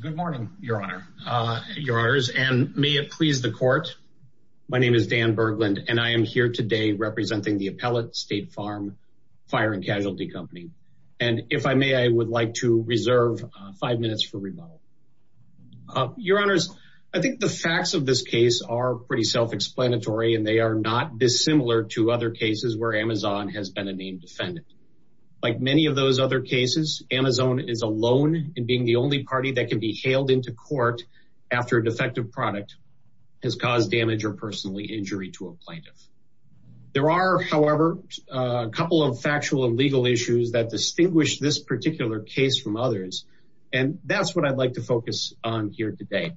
Good morning, Your Honor, Your Honors, and may it please the court. My name is Dan Berglund, and I am here today representing the Appellate State Farm Fire & Casualty Company. And if I may, I would like to reserve five minutes for rebuttal. Your Honors, I think the facts of this case are pretty self-explanatory, and they are not dissimilar to other cases where AMZN has been a named defendant. Like many of those other cases, AMZN is alone in being the only party that can be hailed into court after a defective product has caused damage or personal injury to a plaintiff. There are, however, a couple of factual and legal issues that distinguish this particular case from others. And that's what I'd like to focus on here today.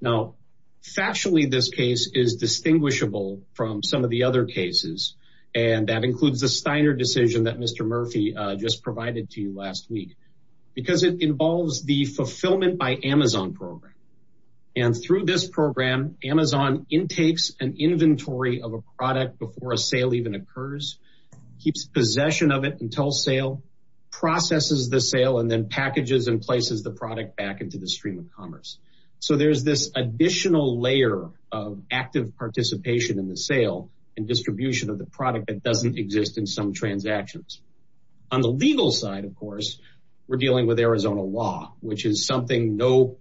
Now, factually, this case is distinguishable from some of the other cases. And that includes the Steiner decision that Mr. Murphy just provided to you last week, because it involves the fulfillment by AMZN program. And through this program, AMZN intakes an inventory of a product before a sale even occurs, keeps possession of it until sale, processes the sale, and then packages and places the product back into the stream of commerce. So there's this additional layer of active participation in the sale and distribution of the product that doesn't exist in some transactions. On the legal side, of course, we're dealing with Arizona law, which is something no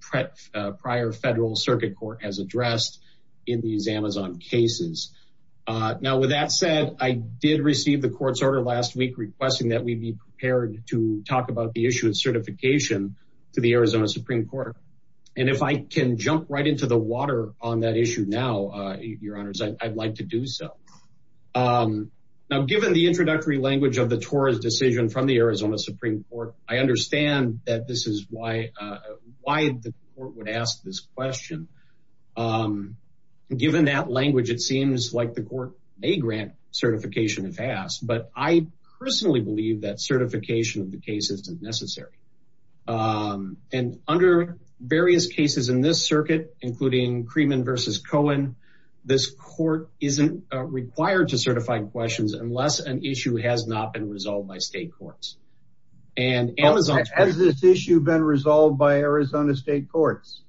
prior federal circuit court has addressed in these Amazon cases. Now with that said, I did receive the court's order last week requesting that we be prepared to talk about the issue of certification to the Arizona Supreme Court. And if I can jump right into the water on that issue now, your honors, I'd like to do so. Now given the introductory language of the TOR's decision from the Arizona Supreme Court, I understand that this is why the court would ask this question. Given that language, it seems like the court may grant certification if asked, but I personally believe that certification of the case isn't necessary. And under various cases in this required to certify questions unless an issue has not been resolved by state courts. And Amazon has this issue been resolved by Arizona state courts.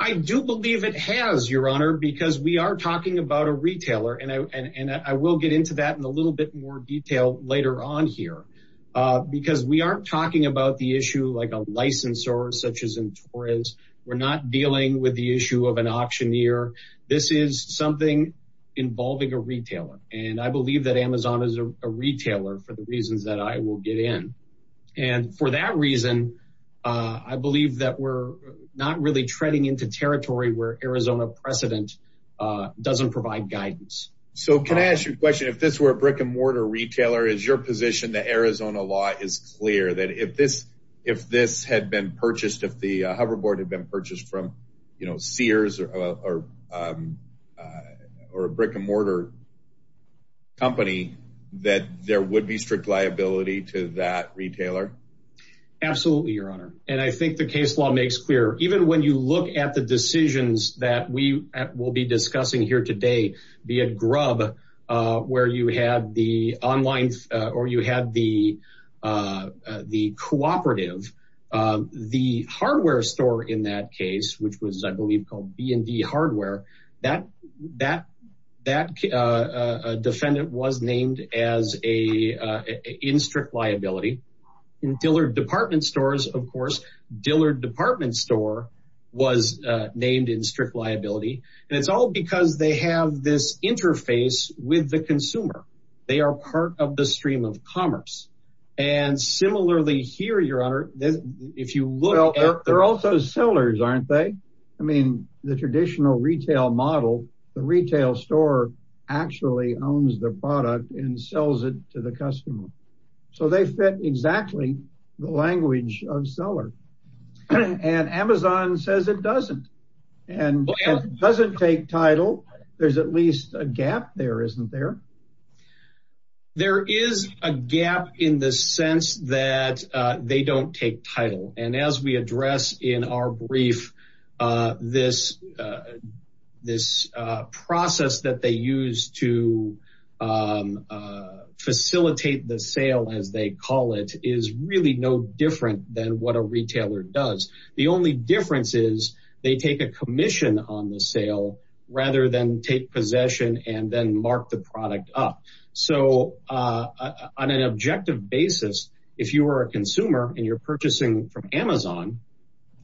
I do believe it has, your honor, because we are talking about a retailer and I will get into that in a little bit more detail later on here. Because we aren't talking about the issue like a licensor such as in Torres, we're not dealing with the issue of an auctioneer. This is something involving a retailer. And I believe that Amazon is a retailer for the reasons that I will get in. And for that reason, I believe that we're not really treading into territory where Arizona precedent doesn't provide guidance. So can I ask you a question if this were a brick and mortar retailer, is your position that Arizona law is clear that if this if this had been purchased, if the hoverboard had been or a brick and mortar company, that there would be strict liability to that retailer? Absolutely, your honor. And I think the case law makes clear even when you look at the decisions that we will be discussing here today, be at grub, where you had the online or you had the the cooperative, the hardware store in that case, which was, I believe, called B and D hardware, that that, that defendant was named as a in strict liability. In Dillard department stores, of course, Dillard department store was named in strict liability. And it's all because they have this interface with the consumer. They are part of the stream of commerce. And similarly here, your honor, if you look, they're also sellers, aren't they? I mean, the traditional retail model, the retail store actually owns the product and sells it to the customer. So they fit exactly the language of seller. And Amazon says it doesn't. And it doesn't take title. There's at least a gap there, isn't there? There is a gap in the sense that they don't take title. And as we address in our brief, this, this process that they use to facilitate the sale, as they call it is really no different than what a retailer does. The only difference is they take a commission on the sale, rather than take possession and then mark the product up. So on an objective basis, if you were a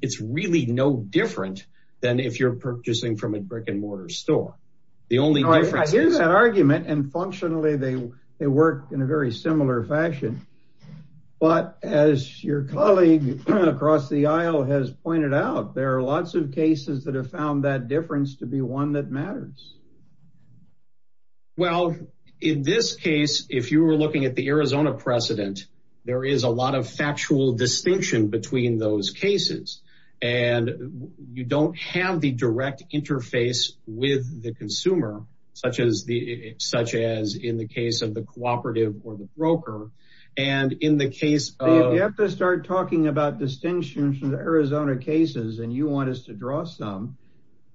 it's really no different than if you're purchasing from a brick and mortar store. The only argument and functionally, they work in a very similar fashion. But as your colleague across the aisle has pointed out, there are lots of cases that have found that difference to be one that matters. Well, in this case, if you were looking at the Arizona precedent, there is a lot of factual distinction between those cases. And you don't have the direct interface with the consumer, such as the such as in the case of the cooperative or the broker. And in the case, you have to start talking about distinctions from the Arizona cases, and you want us to draw some,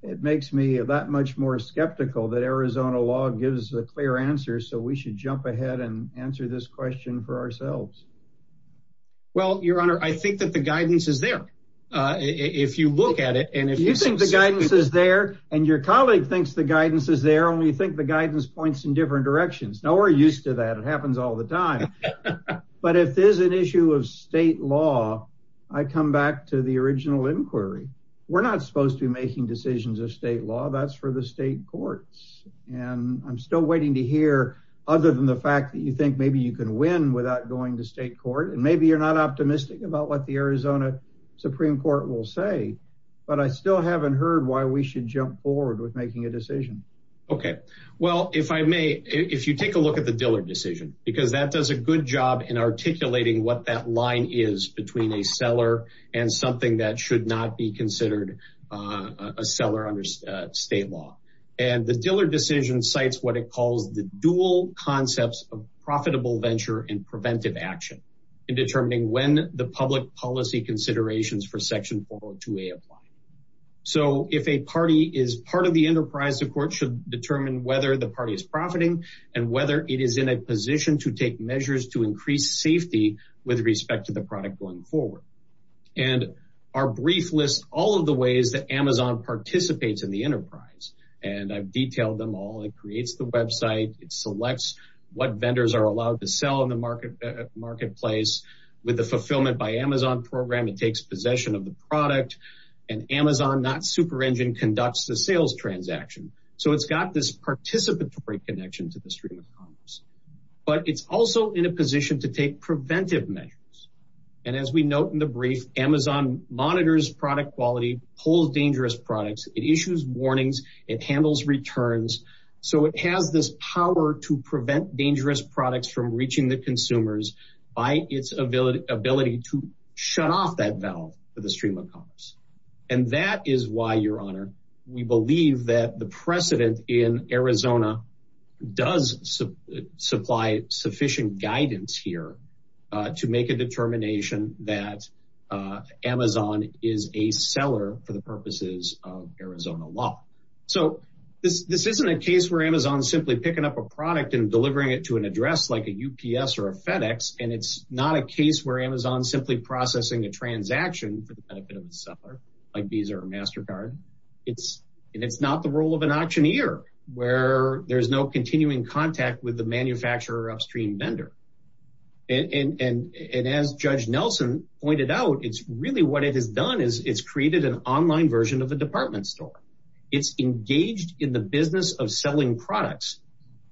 it makes me that much more skeptical that Arizona law gives a clear answer. So we should jump ahead and answer this question for ourselves. Well, Your Honor, I think that the guidance is there. If you look at it, and if you think the guidance is there, and your colleague thinks the guidance is there only think the guidance points in different directions. Now we're used to that. It happens all the time. But if there's an issue of state law, I come back to the original inquiry. We're not supposed to be making decisions of state law, that's for the state courts. And I'm still waiting to hear, other than the fact that you think maybe you can win without going to state court, and maybe you're not optimistic about what the Arizona Supreme Court will say. But I still haven't heard why we should jump forward with making a decision. Okay, well, if I may, if you take a look at the Diller decision, because that does a good job in articulating what that line is between a seller and something that should not be considered a seller under state law. And the Diller decision cites what it calls the dual concepts of profitable venture and preventive action in determining when the public policy considerations for Section 402a apply. So if a party is part of the enterprise, the court should determine whether the party is profiting, and whether it is in a position to take measures to increase safety with respect to the product going forward. And our brief list all of the ways that Amazon participates in the enterprise, and I've detailed them all, it creates the website, it selects what vendors are allowed to sell in the market marketplace. With the fulfillment by Amazon program, it takes possession of the product, and Amazon not super engine conducts the sales transaction. So it's got this participatory connection to the stream of commerce. But it's also in a position to take preventive measures. And as we note in the brief, Amazon monitors product quality, pulls dangerous products, it issues warnings, it handles returns. So it has this power to prevent dangerous products from reaching the consumers by its ability ability to shut off that valve for the stream of commerce. And that is why Your Honor, we believe that the precedent in Arizona does supply sufficient guidance here to make a determination that Amazon is a seller for the purposes of So this isn't a case where Amazon simply picking up a product and delivering it to an address like a UPS or a FedEx. And it's not a case where Amazon simply processing a transaction for the benefit of the seller, like Visa or MasterCard. It's it's not the role of an auctioneer, where there's no continuing contact with the manufacturer upstream vendor. And as Judge Nelson pointed out, it's really what it has done is it's created an online version of a department store. It's engaged in the business of selling products,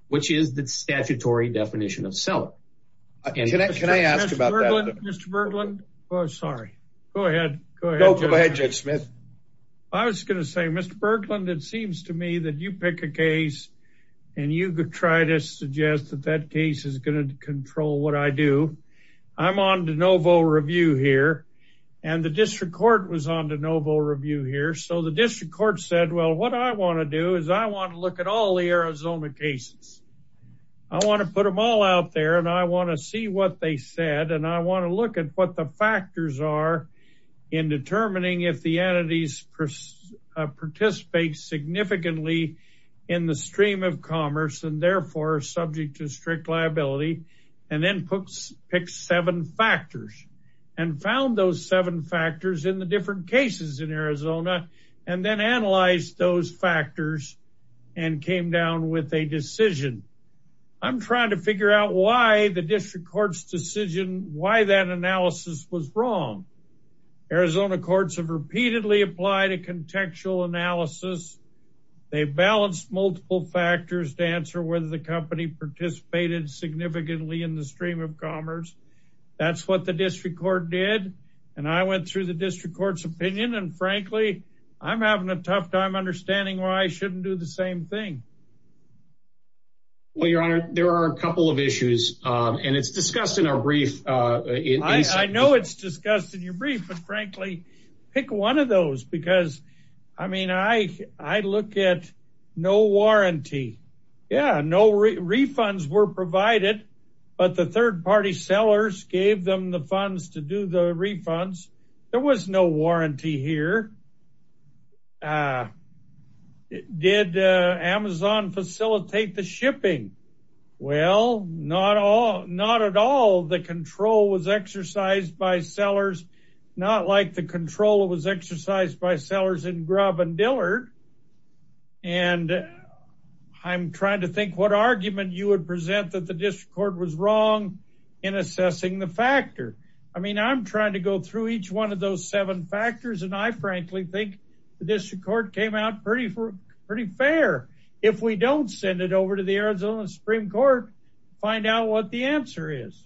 which is the statutory definition of seller. And can I ask you about that, Mr. Berglund? Oh, sorry. Go ahead. Go ahead, Judge Smith. I was gonna say, Mr. Berglund, it seems to me that you pick a case. And you could try to suggest that that case is going to control what I do. I'm on de novo review here. And the district court said, well, what I want to do is I want to look at all the Arizona cases. I want to put them all out there. And I want to see what they said. And I want to look at what the factors are in determining if the entities participate significantly in the stream of commerce and therefore subject to strict liability, and then picks seven factors and found those seven factors in the different cases in Arizona, and then analyze those factors and came down with a decision. I'm trying to figure out why the district court's decision why that analysis was wrong. Arizona courts have repeatedly applied a contextual analysis. They balanced multiple factors to answer whether the company participated significantly in the stream of commerce. That's what the district court did. And I went through the district court's opinion. And frankly, I'm having a tough time understanding why I shouldn't do the same thing. Well, Your Honor, there are a couple of issues. And it's discussed in our brief. I know it's discussed in your brief, but frankly, pick one of those because I mean, I look at no warranty. Yeah, no refunds were provided. But the third party sellers gave them the funds to do the refunds. There was no warranty here. Did Amazon facilitate the shipping? Well, not all not at all. The control was exercised by sellers, not like the controller was exercised by sellers in Grubb and Dillard. And I'm trying to think what argument you would present that the district court was wrong in assessing the factor. I mean, I'm trying to go through each one of those seven factors. And I frankly think the district court came out pretty, pretty fair. If we don't send it over to the Arizona Supreme Court, find out what the answer is.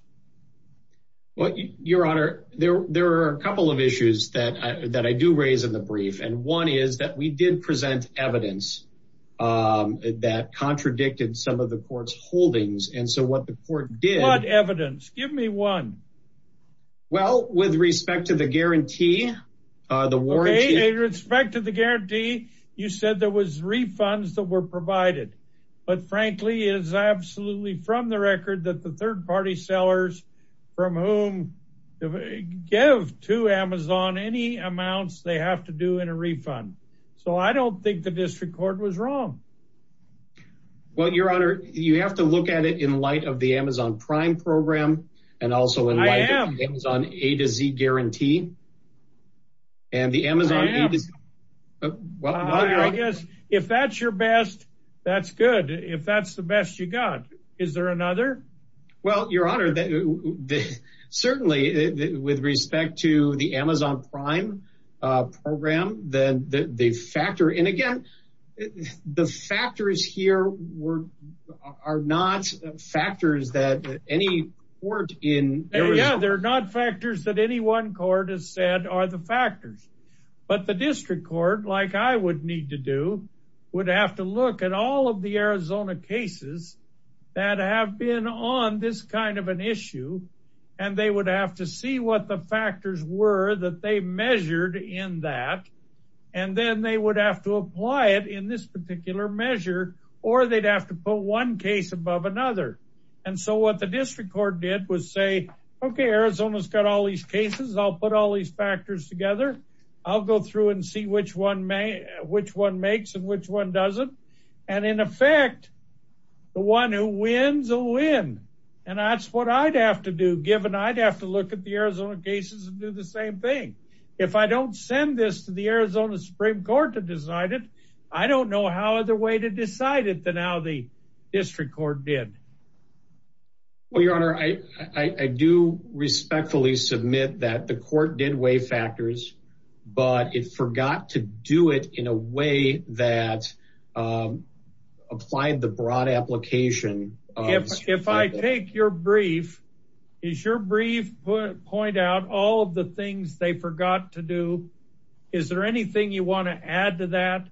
Well, Your Honor, there are a couple of issues that I do raise in the brief. And one is that we did present evidence that contradicted some of the court's holdings. And so what the court did... What evidence? Give me one. Well, with respect to the guarantee, the warranty... With respect to the guarantee, you said there was refunds that were provided. But frankly, it is absolutely from the record that the third party sellers from whom give to Amazon any amounts they have to do in a refund. So I don't think the district court was wrong. Well, Your Honor, you have to look at it in light of the Amazon Prime program, and also in light of the Amazon A to Z guarantee. And the Amazon... I guess if that's your best, that's good. If that's the best you got, is there another? Well, Your Honor, certainly with respect to the Amazon Prime program, then they factor in again, the factors here are not factors that any court in... Yeah, they're not factors that any one court has said are the factors. But the district court, like I would need to do, would have to look at all of the Arizona cases that have been on this kind of an issue. And they would have to see what the in that. And then they would have to apply it in this particular measure, or they'd have to put one case above another. And so what the district court did was say, okay, Arizona's got all these cases, I'll put all these factors together. I'll go through and see which one makes and which one doesn't. And in effect, the one who wins a win. And that's what I'd have to do, given I'd have to look at the I don't send this to the Arizona Supreme Court to decide it. I don't know how other way to decide it than how the district court did. Well, Your Honor, I do respectfully submit that the court did weigh factors, but it forgot to do it in a way that applied the broad application. If I take your brief, is your brief point out all of the Is there anything you want to add to that?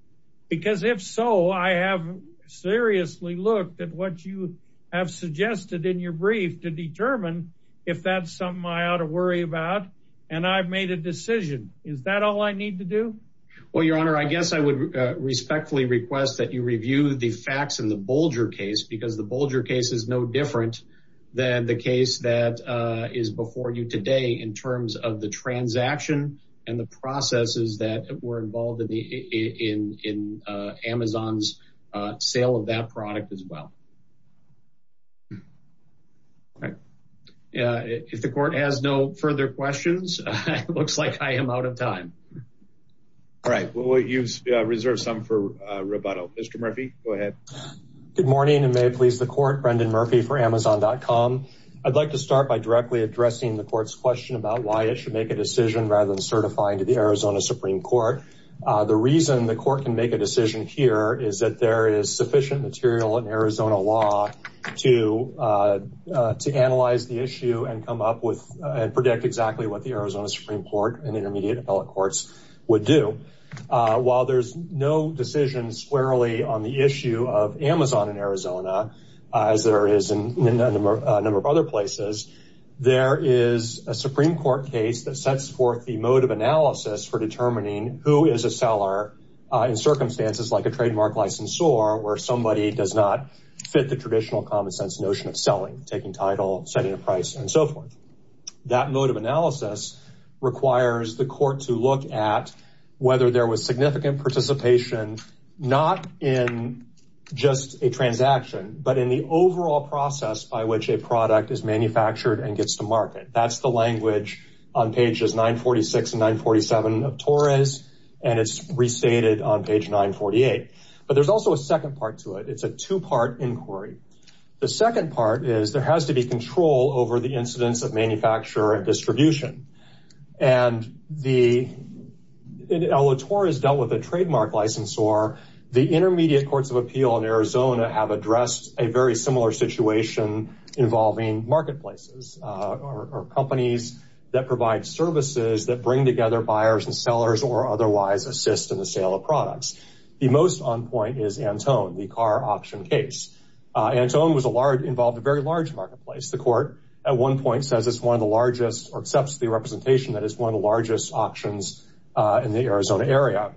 Because if so, I have seriously looked at what you have suggested in your brief to determine if that's something I ought to worry about. And I've made a decision. Is that all I need to do? Well, Your Honor, I guess I would respectfully request that you review the facts in the Bolger case, because the Bolger case is no different than the case that is before you today in terms of the transaction and the processes that were involved in the in Amazon's sale of that product as well. All right, if the court has no further questions, it looks like I am out of time. All right, well, you've reserved some for rubato. Mr. Murphy, go ahead. Good morning, and may it please the court Brendan Murphy for amazon.com. I'd like to start by directly addressing the court's question about why it should make a decision rather than certifying to the Arizona Supreme Court. The reason the court can make a decision here is that there is sufficient material in Arizona law to to analyze the issue and come up with and predict exactly what the Arizona Supreme Court and intermediate appellate courts would do. While there's no decision squarely on the issue of Amazon in Arizona, as there is in a number of other places, there is a Supreme Court case that sets forth the mode of analysis for determining who is a seller in circumstances like a trademark licensor, where somebody does not fit the traditional common sense notion of selling, taking title, setting a price and so forth. That mode of analysis requires the court to look at whether there was significant participation, not in just a process by which a product is manufactured and gets to market. That's the language on pages 946 and 947 of Torres, and it's restated on page 948. But there's also a second part to it. It's a two part inquiry. The second part is there has to be control over the incidence of manufacture and distribution. And the Ella Torres dealt with a trademark licensor, the intermediate courts of appeal in Arizona have addressed a very similar situation involving marketplaces or companies that provide services that bring together buyers and sellers or otherwise assist in the sale of products. The most on point is Antone, the car auction case. Antone involved a very large marketplace. The court at one point says it's one of the largest or accepts the representation that is one of the largest auctions in the Arizona area.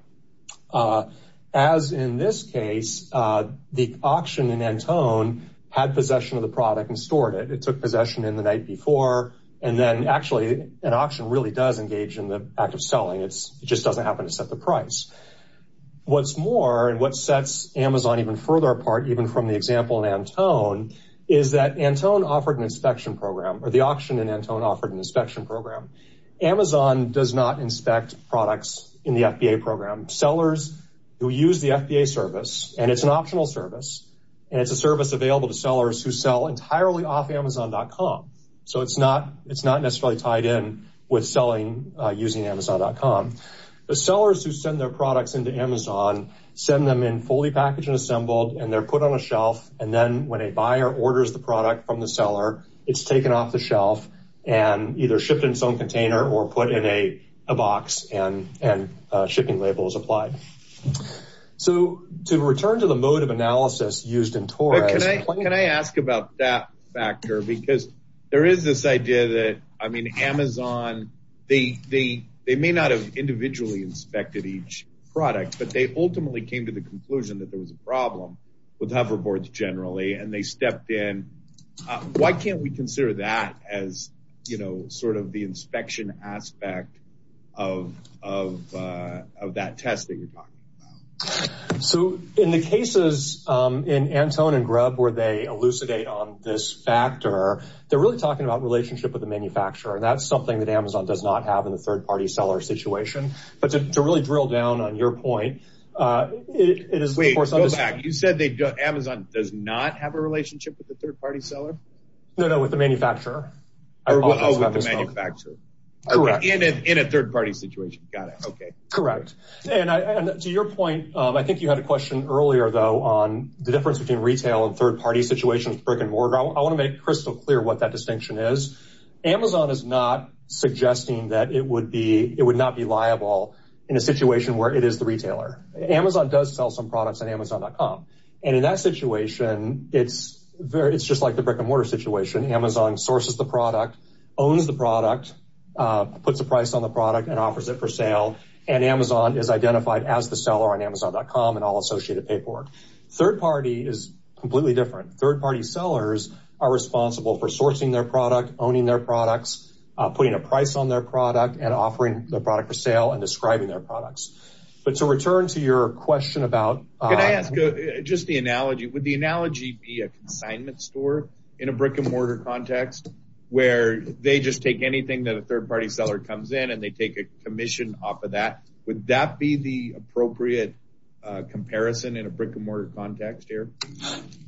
As in this case, the had possession of the product and stored it. It took possession in the night before, and then actually an auction really does engage in the act of selling. It's just doesn't happen to set the price. What's more, and what sets Amazon even further apart, even from the example in Antone, is that Antone offered an inspection program or the auction in Antone offered an inspection program. Amazon does not inspect products in the FBA program. Sellers who use the FBA service, and it's an optional service, and it's a service available to sellers who sell entirely off amazon.com. So it's not necessarily tied in with selling using amazon.com. The sellers who send their products into Amazon send them in fully packaged and assembled, and they're put on a shelf. And then when a buyer orders the product from the seller, it's taken off the shelf and either shipped in its own container or put in a box and shipping label is So to return to the mode of analysis used in Taurus, Can I ask about that factor? Because there is this idea that I mean, Amazon, they may not have individually inspected each product, but they ultimately came to the conclusion that there was a problem with hoverboards generally, and they stepped in. Why can't we consider that as, you know, sort of the inspection aspect of, of, of that test that you're talking about? So in the cases, in Antone and Grubb, where they elucidate on this factor, they're really talking about relationship with the manufacturer. And that's something that Amazon does not have in the third party seller situation. But to really drill down on your point, it is Wait, go back. You said they Amazon does not have a relationship with the third party seller? No, no, with the manufacturer. I remember the manufacturer in a third party situation. Got it. Okay, correct. And to your point, I think you had a question earlier, though, on the difference between retail and third party situations, brick and mortar. I want to make crystal clear what that distinction is. Amazon is not suggesting that it would be it would not be liable in a situation where it is the retailer. Amazon does sell some products on amazon.com. And in that situation, it's very it's just like the brick and mortar situation. Amazon sources the product, owns the product, puts a price on the product and offers it for sale. And Amazon is identified as the seller on amazon.com and all associated paperwork. Third party is completely different. Third party sellers are responsible for sourcing their product, owning their products, putting a price on their product and offering the product for sale and describing their products. But to return to your question about Can I ask just the analogy, would the analogy be a consignment store in a brick and mortar context, where they just take anything that a third party seller comes in and they take a commission off of that? Would that be the appropriate comparison in a brick and mortar context here?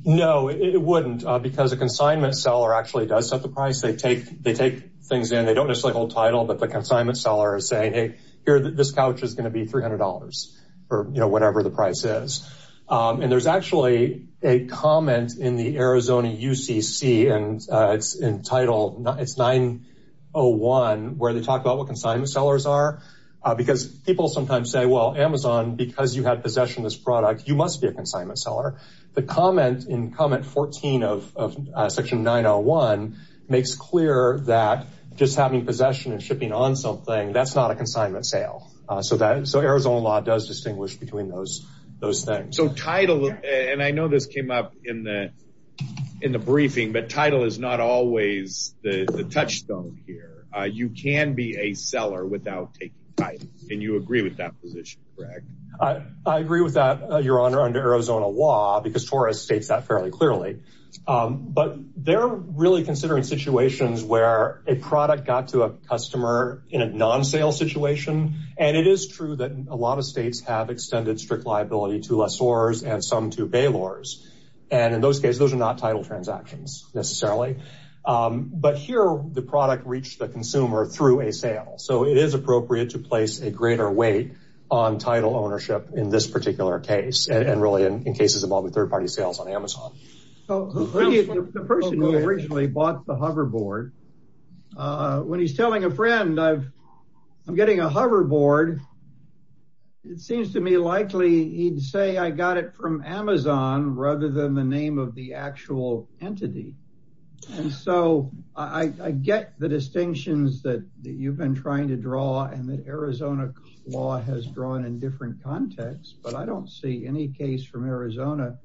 No, it wouldn't, because a consignment seller actually does set the price they take, they take things in, they don't necessarily hold title, but the consignment seller is saying, hey, here, this couch is going to be $300 for, you know, whatever the price is. And there's actually a comment in the Arizona UCC, and it's entitled, it's 901, where they talk about what consignment sellers are, because people sometimes say, well, Amazon, because you have possession of this product, you must be a consignment seller. The comment in comment 14 of section 901, makes clear that just having possession and shipping on something that's not a consignment sale. So that so Arizona law does distinguish between those, those things. So title, and I know this came up in the, in the briefing, but title is not always the touchstone here. You can be a seller without taking title. And you agree with that position, correct? I agree with that, Your Honor, under Arizona law, because Torres states that fairly clearly. But they're really considering situations where a product got to a customer in a non sale situation. And it is true that a lot of states have extended strict liability to lessors and some to bailors. And in those cases, those are not title transactions, necessarily. But here, the product reached the consumer through a sale. So it is appropriate to place a greater weight on title ownership in this particular case, and really, in cases of all the third party sales on Amazon. The person who originally bought the hoverboard, when he's a friend, I've, I'm getting a hoverboard. It seems to me likely he'd say I got it from Amazon rather than the name of the actual entity. And so I get the distinctions that you've been trying to draw and that Arizona law has drawn in different contexts, but I don't see any case from Arizona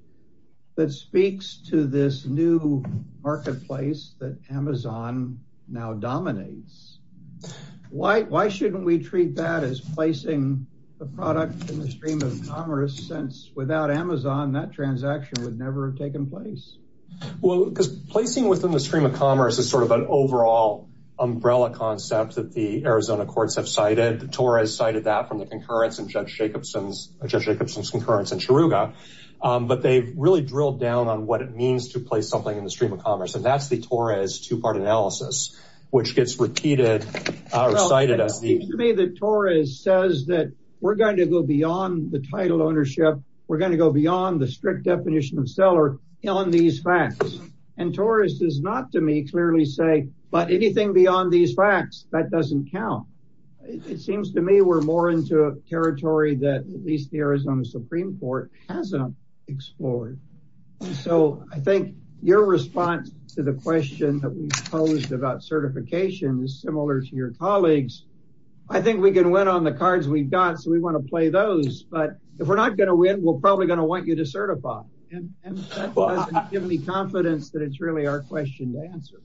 that why shouldn't we treat that as placing the product in the stream of commerce since without Amazon, that transaction would never have taken place? Well, because placing within the stream of commerce is sort of an overall umbrella concept that the Arizona courts have cited Torres cited that from the concurrence and Judge Jacobson's Judge Jacobson's concurrence in Chiruga. But they've really drilled down on what it means to place something in the stream of commerce. And that's the Torres two part analysis, which gets repeated, or cited as the to me that Torres says that we're going to go beyond the title ownership, we're going to go beyond the strict definition of seller on these facts. And Torres does not to me clearly say, but anything beyond these facts that doesn't count. It seems to me we're more into a territory that at least the Arizona Supreme Court hasn't explored. So I think your response to the question that we posed about certification is similar to your colleagues. I think we can win on the cards we've got. So we want to play those. But if we're not going to win, we're probably going to want you to certify and give me confidence that it's really our question to answer.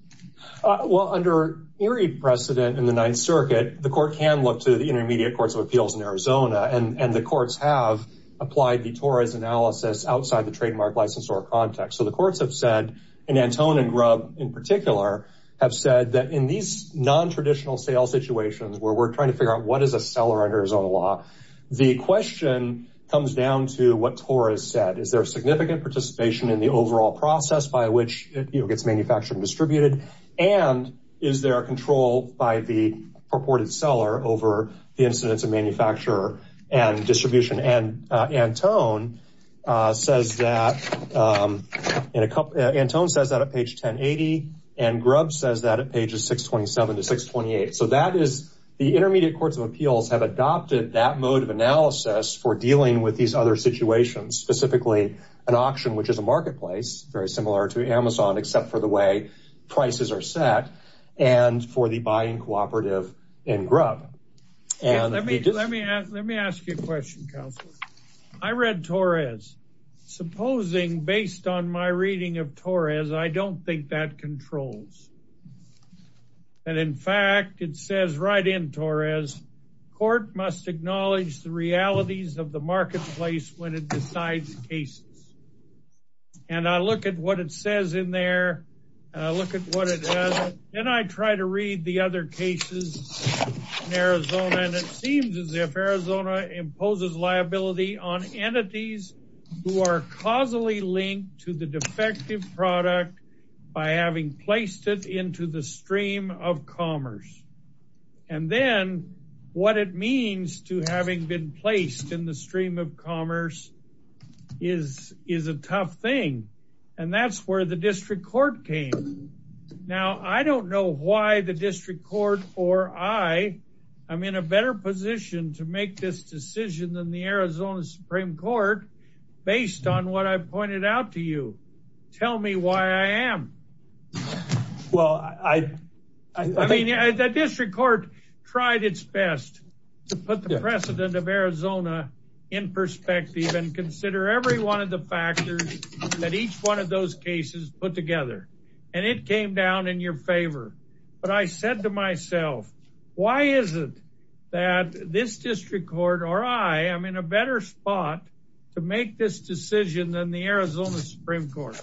Well, under Erie precedent in the Ninth Circuit, the court can look to the intermediate courts of appeals in Arizona and the courts have applied the Torres analysis outside the trademark license or context. So the courts have said, in Antone and Grubb, in particular, have said that in these non traditional sales situations where we're trying to figure out what is a seller under his own law, the question comes down to what Torres said, is there significant participation in the overall process by which it gets manufactured and distributed? And is there a control by the purported seller over the incidence of manufacturer and distribution and Antone says that in a couple, Antone says that at page 1080, and Grubb says that at pages 627 to 628. So that is the intermediate courts of appeals have adopted that mode of analysis for dealing with these other situations, specifically, an auction, which is a marketplace very similar to Amazon, except for the way prices are set, and for the buying cooperative in Grubb. And let me let me let me ask you a question, counselor. I read Torres, supposing based on my reading of Torres, I don't think that controls. And in fact, it says right in Torres, court must acknowledge the realities of the marketplace when it decides cases. And I look at what it says in there. Look at what it does. And I try to read the other cases in Arizona. And it are causally linked to the defective product by having placed it into the stream of commerce. And then what it means to having been placed in the stream of commerce is is a tough thing. And that's where the district court came. Now, I don't know why the district court or I, I'm in a better position to make this decision than the Arizona Supreme Court. Based on what I pointed out to you, tell me why I am. Well, I I mean, the district court tried its best to put the precedent of Arizona in perspective and consider every one of the factors that each one of those cases put together. And it came down in your favor. But I said to myself, why is it that this spot to make this decision than the Arizona Supreme Court?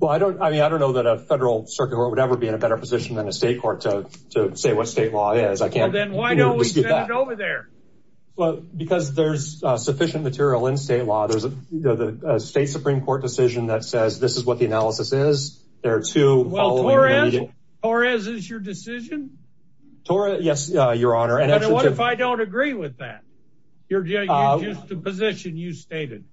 Well, I don't I mean, I don't know that a federal circuit or whatever be in a better position than a state court to say what state law is. I can't then why don't we see that over there? Well, because there's sufficient material in state law. There's a state Supreme Court decision that says this is what the analysis is. There are two. Well, Torres is your decision? Torres? Yes, Your Honor. And the position you stated?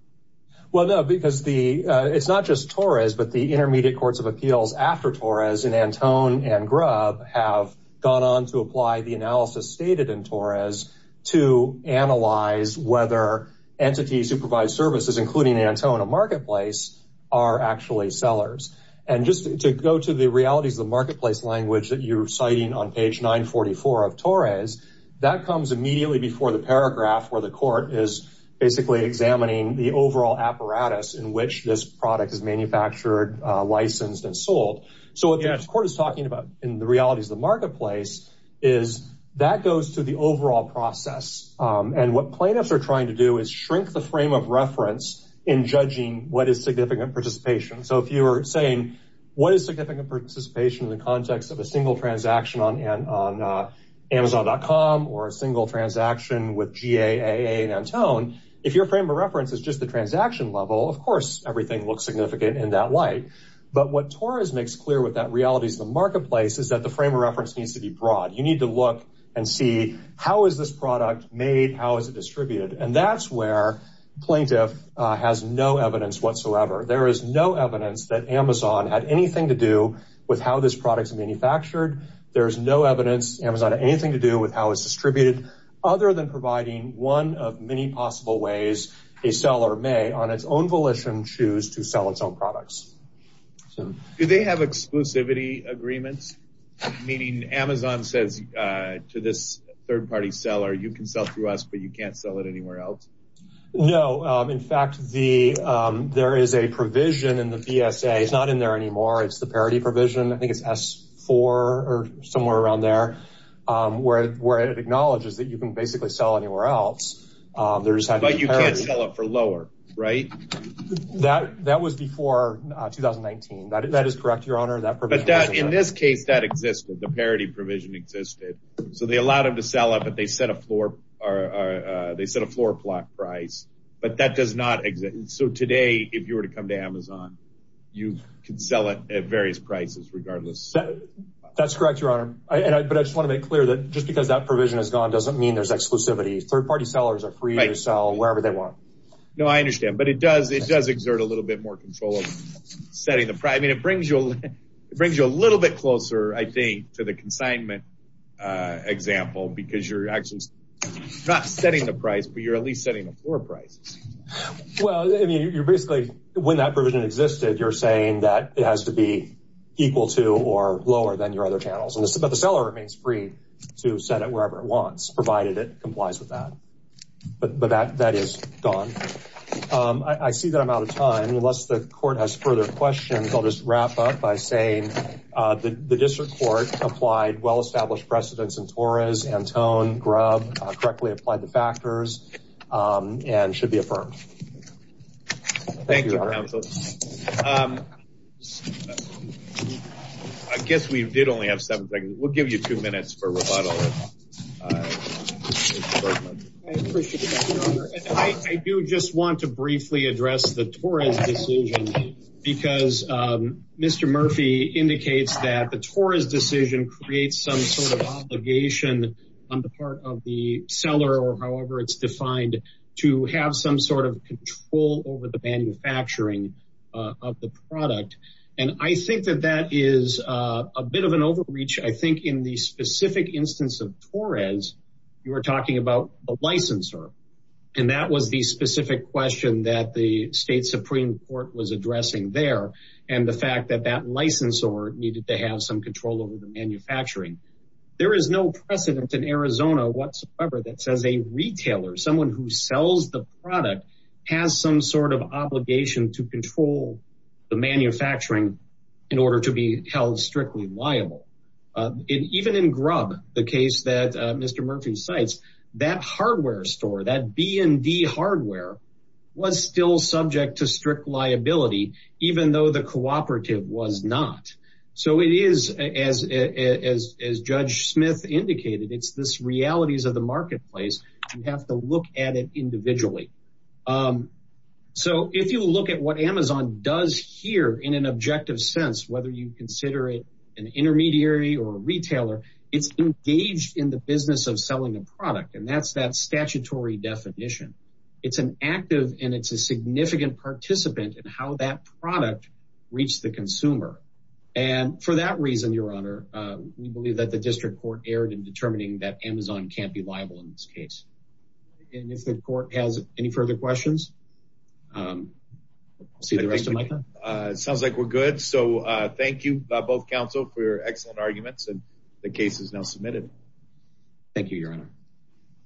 Well, no, because the it's not just Torres, but the intermediate courts of appeals after Torres and Antone and Grubb have gone on to apply the analysis stated in Torres to analyze whether entities who provide services, including Antone, a marketplace are actually sellers. And just to go to the realities of the marketplace language that you're citing on page 944 of Torres, that comes immediately before the paragraph where the court is basically examining the overall apparatus in which this product is manufactured, licensed and sold. So what the court is talking about in the realities of the marketplace is that goes to the overall process. And what plaintiffs are trying to do is shrink the frame of reference in judging what is significant participation. So if you were saying, what is significant participation in the context of a single transaction on Amazon dot com or a single transaction with GAA and Antone, if your frame of reference is just the transaction level, of course, everything looks significant in that light. But what Torres makes clear with that reality is the marketplace is that the frame of reference needs to be broad. You need to look and see how is this product made? How is it distributed? And that's where plaintiff has no evidence whatsoever. There is no evidence that Amazon had anything to do with how this product is manufactured. There's no evidence Amazon had anything to do with how it's distributed other than providing one of many possible ways a seller may on its own volition choose to sell its own products. Do they have exclusivity agreements? Meaning Amazon says to this third party seller, you can sell through us, but you can't sell it anywhere else? No. In fact, the there is a provision in the VSA. It's not in there anymore. It's the parity provision. I think it's four or somewhere around there, where it acknowledges that you can basically sell anywhere else. There's that, but you can't sell it for lower, right? That that was before 2019. That is correct, Your Honor. In this case, that existed, the parity provision existed. So they allowed him to sell it, but they set a floor. They set a floor plot price. But that does not exist. So today, if you were to come to Amazon, you can sell it at various prices, regardless. That's correct, Your Honor. But I just want to make clear that just because that provision is gone doesn't mean there's exclusivity. Third party sellers are free to sell wherever they want. No, I understand. But it does it does exert a little bit more control of setting the price. I mean, it brings you a little bit closer, I think, to the consignment example, because you're actually not setting the price, but you're at least setting the floor price. Well, I mean, you're basically when that provision existed, you're saying that it has to be equal to or lower than your other channels. But the seller remains free to set it wherever it wants, provided it complies with that. But that is gone. I see that I'm out of time. Unless the court has further questions, I'll just wrap up by saying that the district court applied well-established precedents in Torres, Antone, Grubb, correctly applied the factors and should be affirmed. Thank you, Your Honor. I guess we did only have seven seconds. We'll give you two minutes for rebuttal. I appreciate it, Your Honor. I do just want to briefly address the Torres decision. Because Mr. Murphy indicates that the Torres decision creates some sort of obligation on the part of the seller or however it's defined to have some sort of control over the manufacturing of the product. And I think that that is a bit of an overreach. I think in the specific instance of Torres, you were talking about a licensor. And that was the specific question that the state Supreme Court was addressing there. And the fact that that licensor needed to have some control over the manufacturing. There is no precedent in Arizona whatsoever that says a retailer, someone who sells the product has some sort of obligation to control the manufacturing in order to be held strictly liable. Even in Grubb, the case that Mr. Murphy cites, that hardware store, that B&D hardware was still subject to strict liability, even though the cooperative was not. So it is, as Judge Smith indicated, it's this realities of the individual. So if you look at what Amazon does here in an objective sense, whether you consider it an intermediary or a retailer, it's engaged in the business of selling a product. And that's that statutory definition. It's an active and it's a significant participant in how that product reached the consumer. And for that reason, Your Honor, we believe that the district court erred in determining that Amazon can't be a retailer. So with that, I think the court has any further questions. I'll see the rest of my time. It sounds like we're good. So thank you, both counsel for excellent arguments and the case is now submitted. Thank you, Your Honor.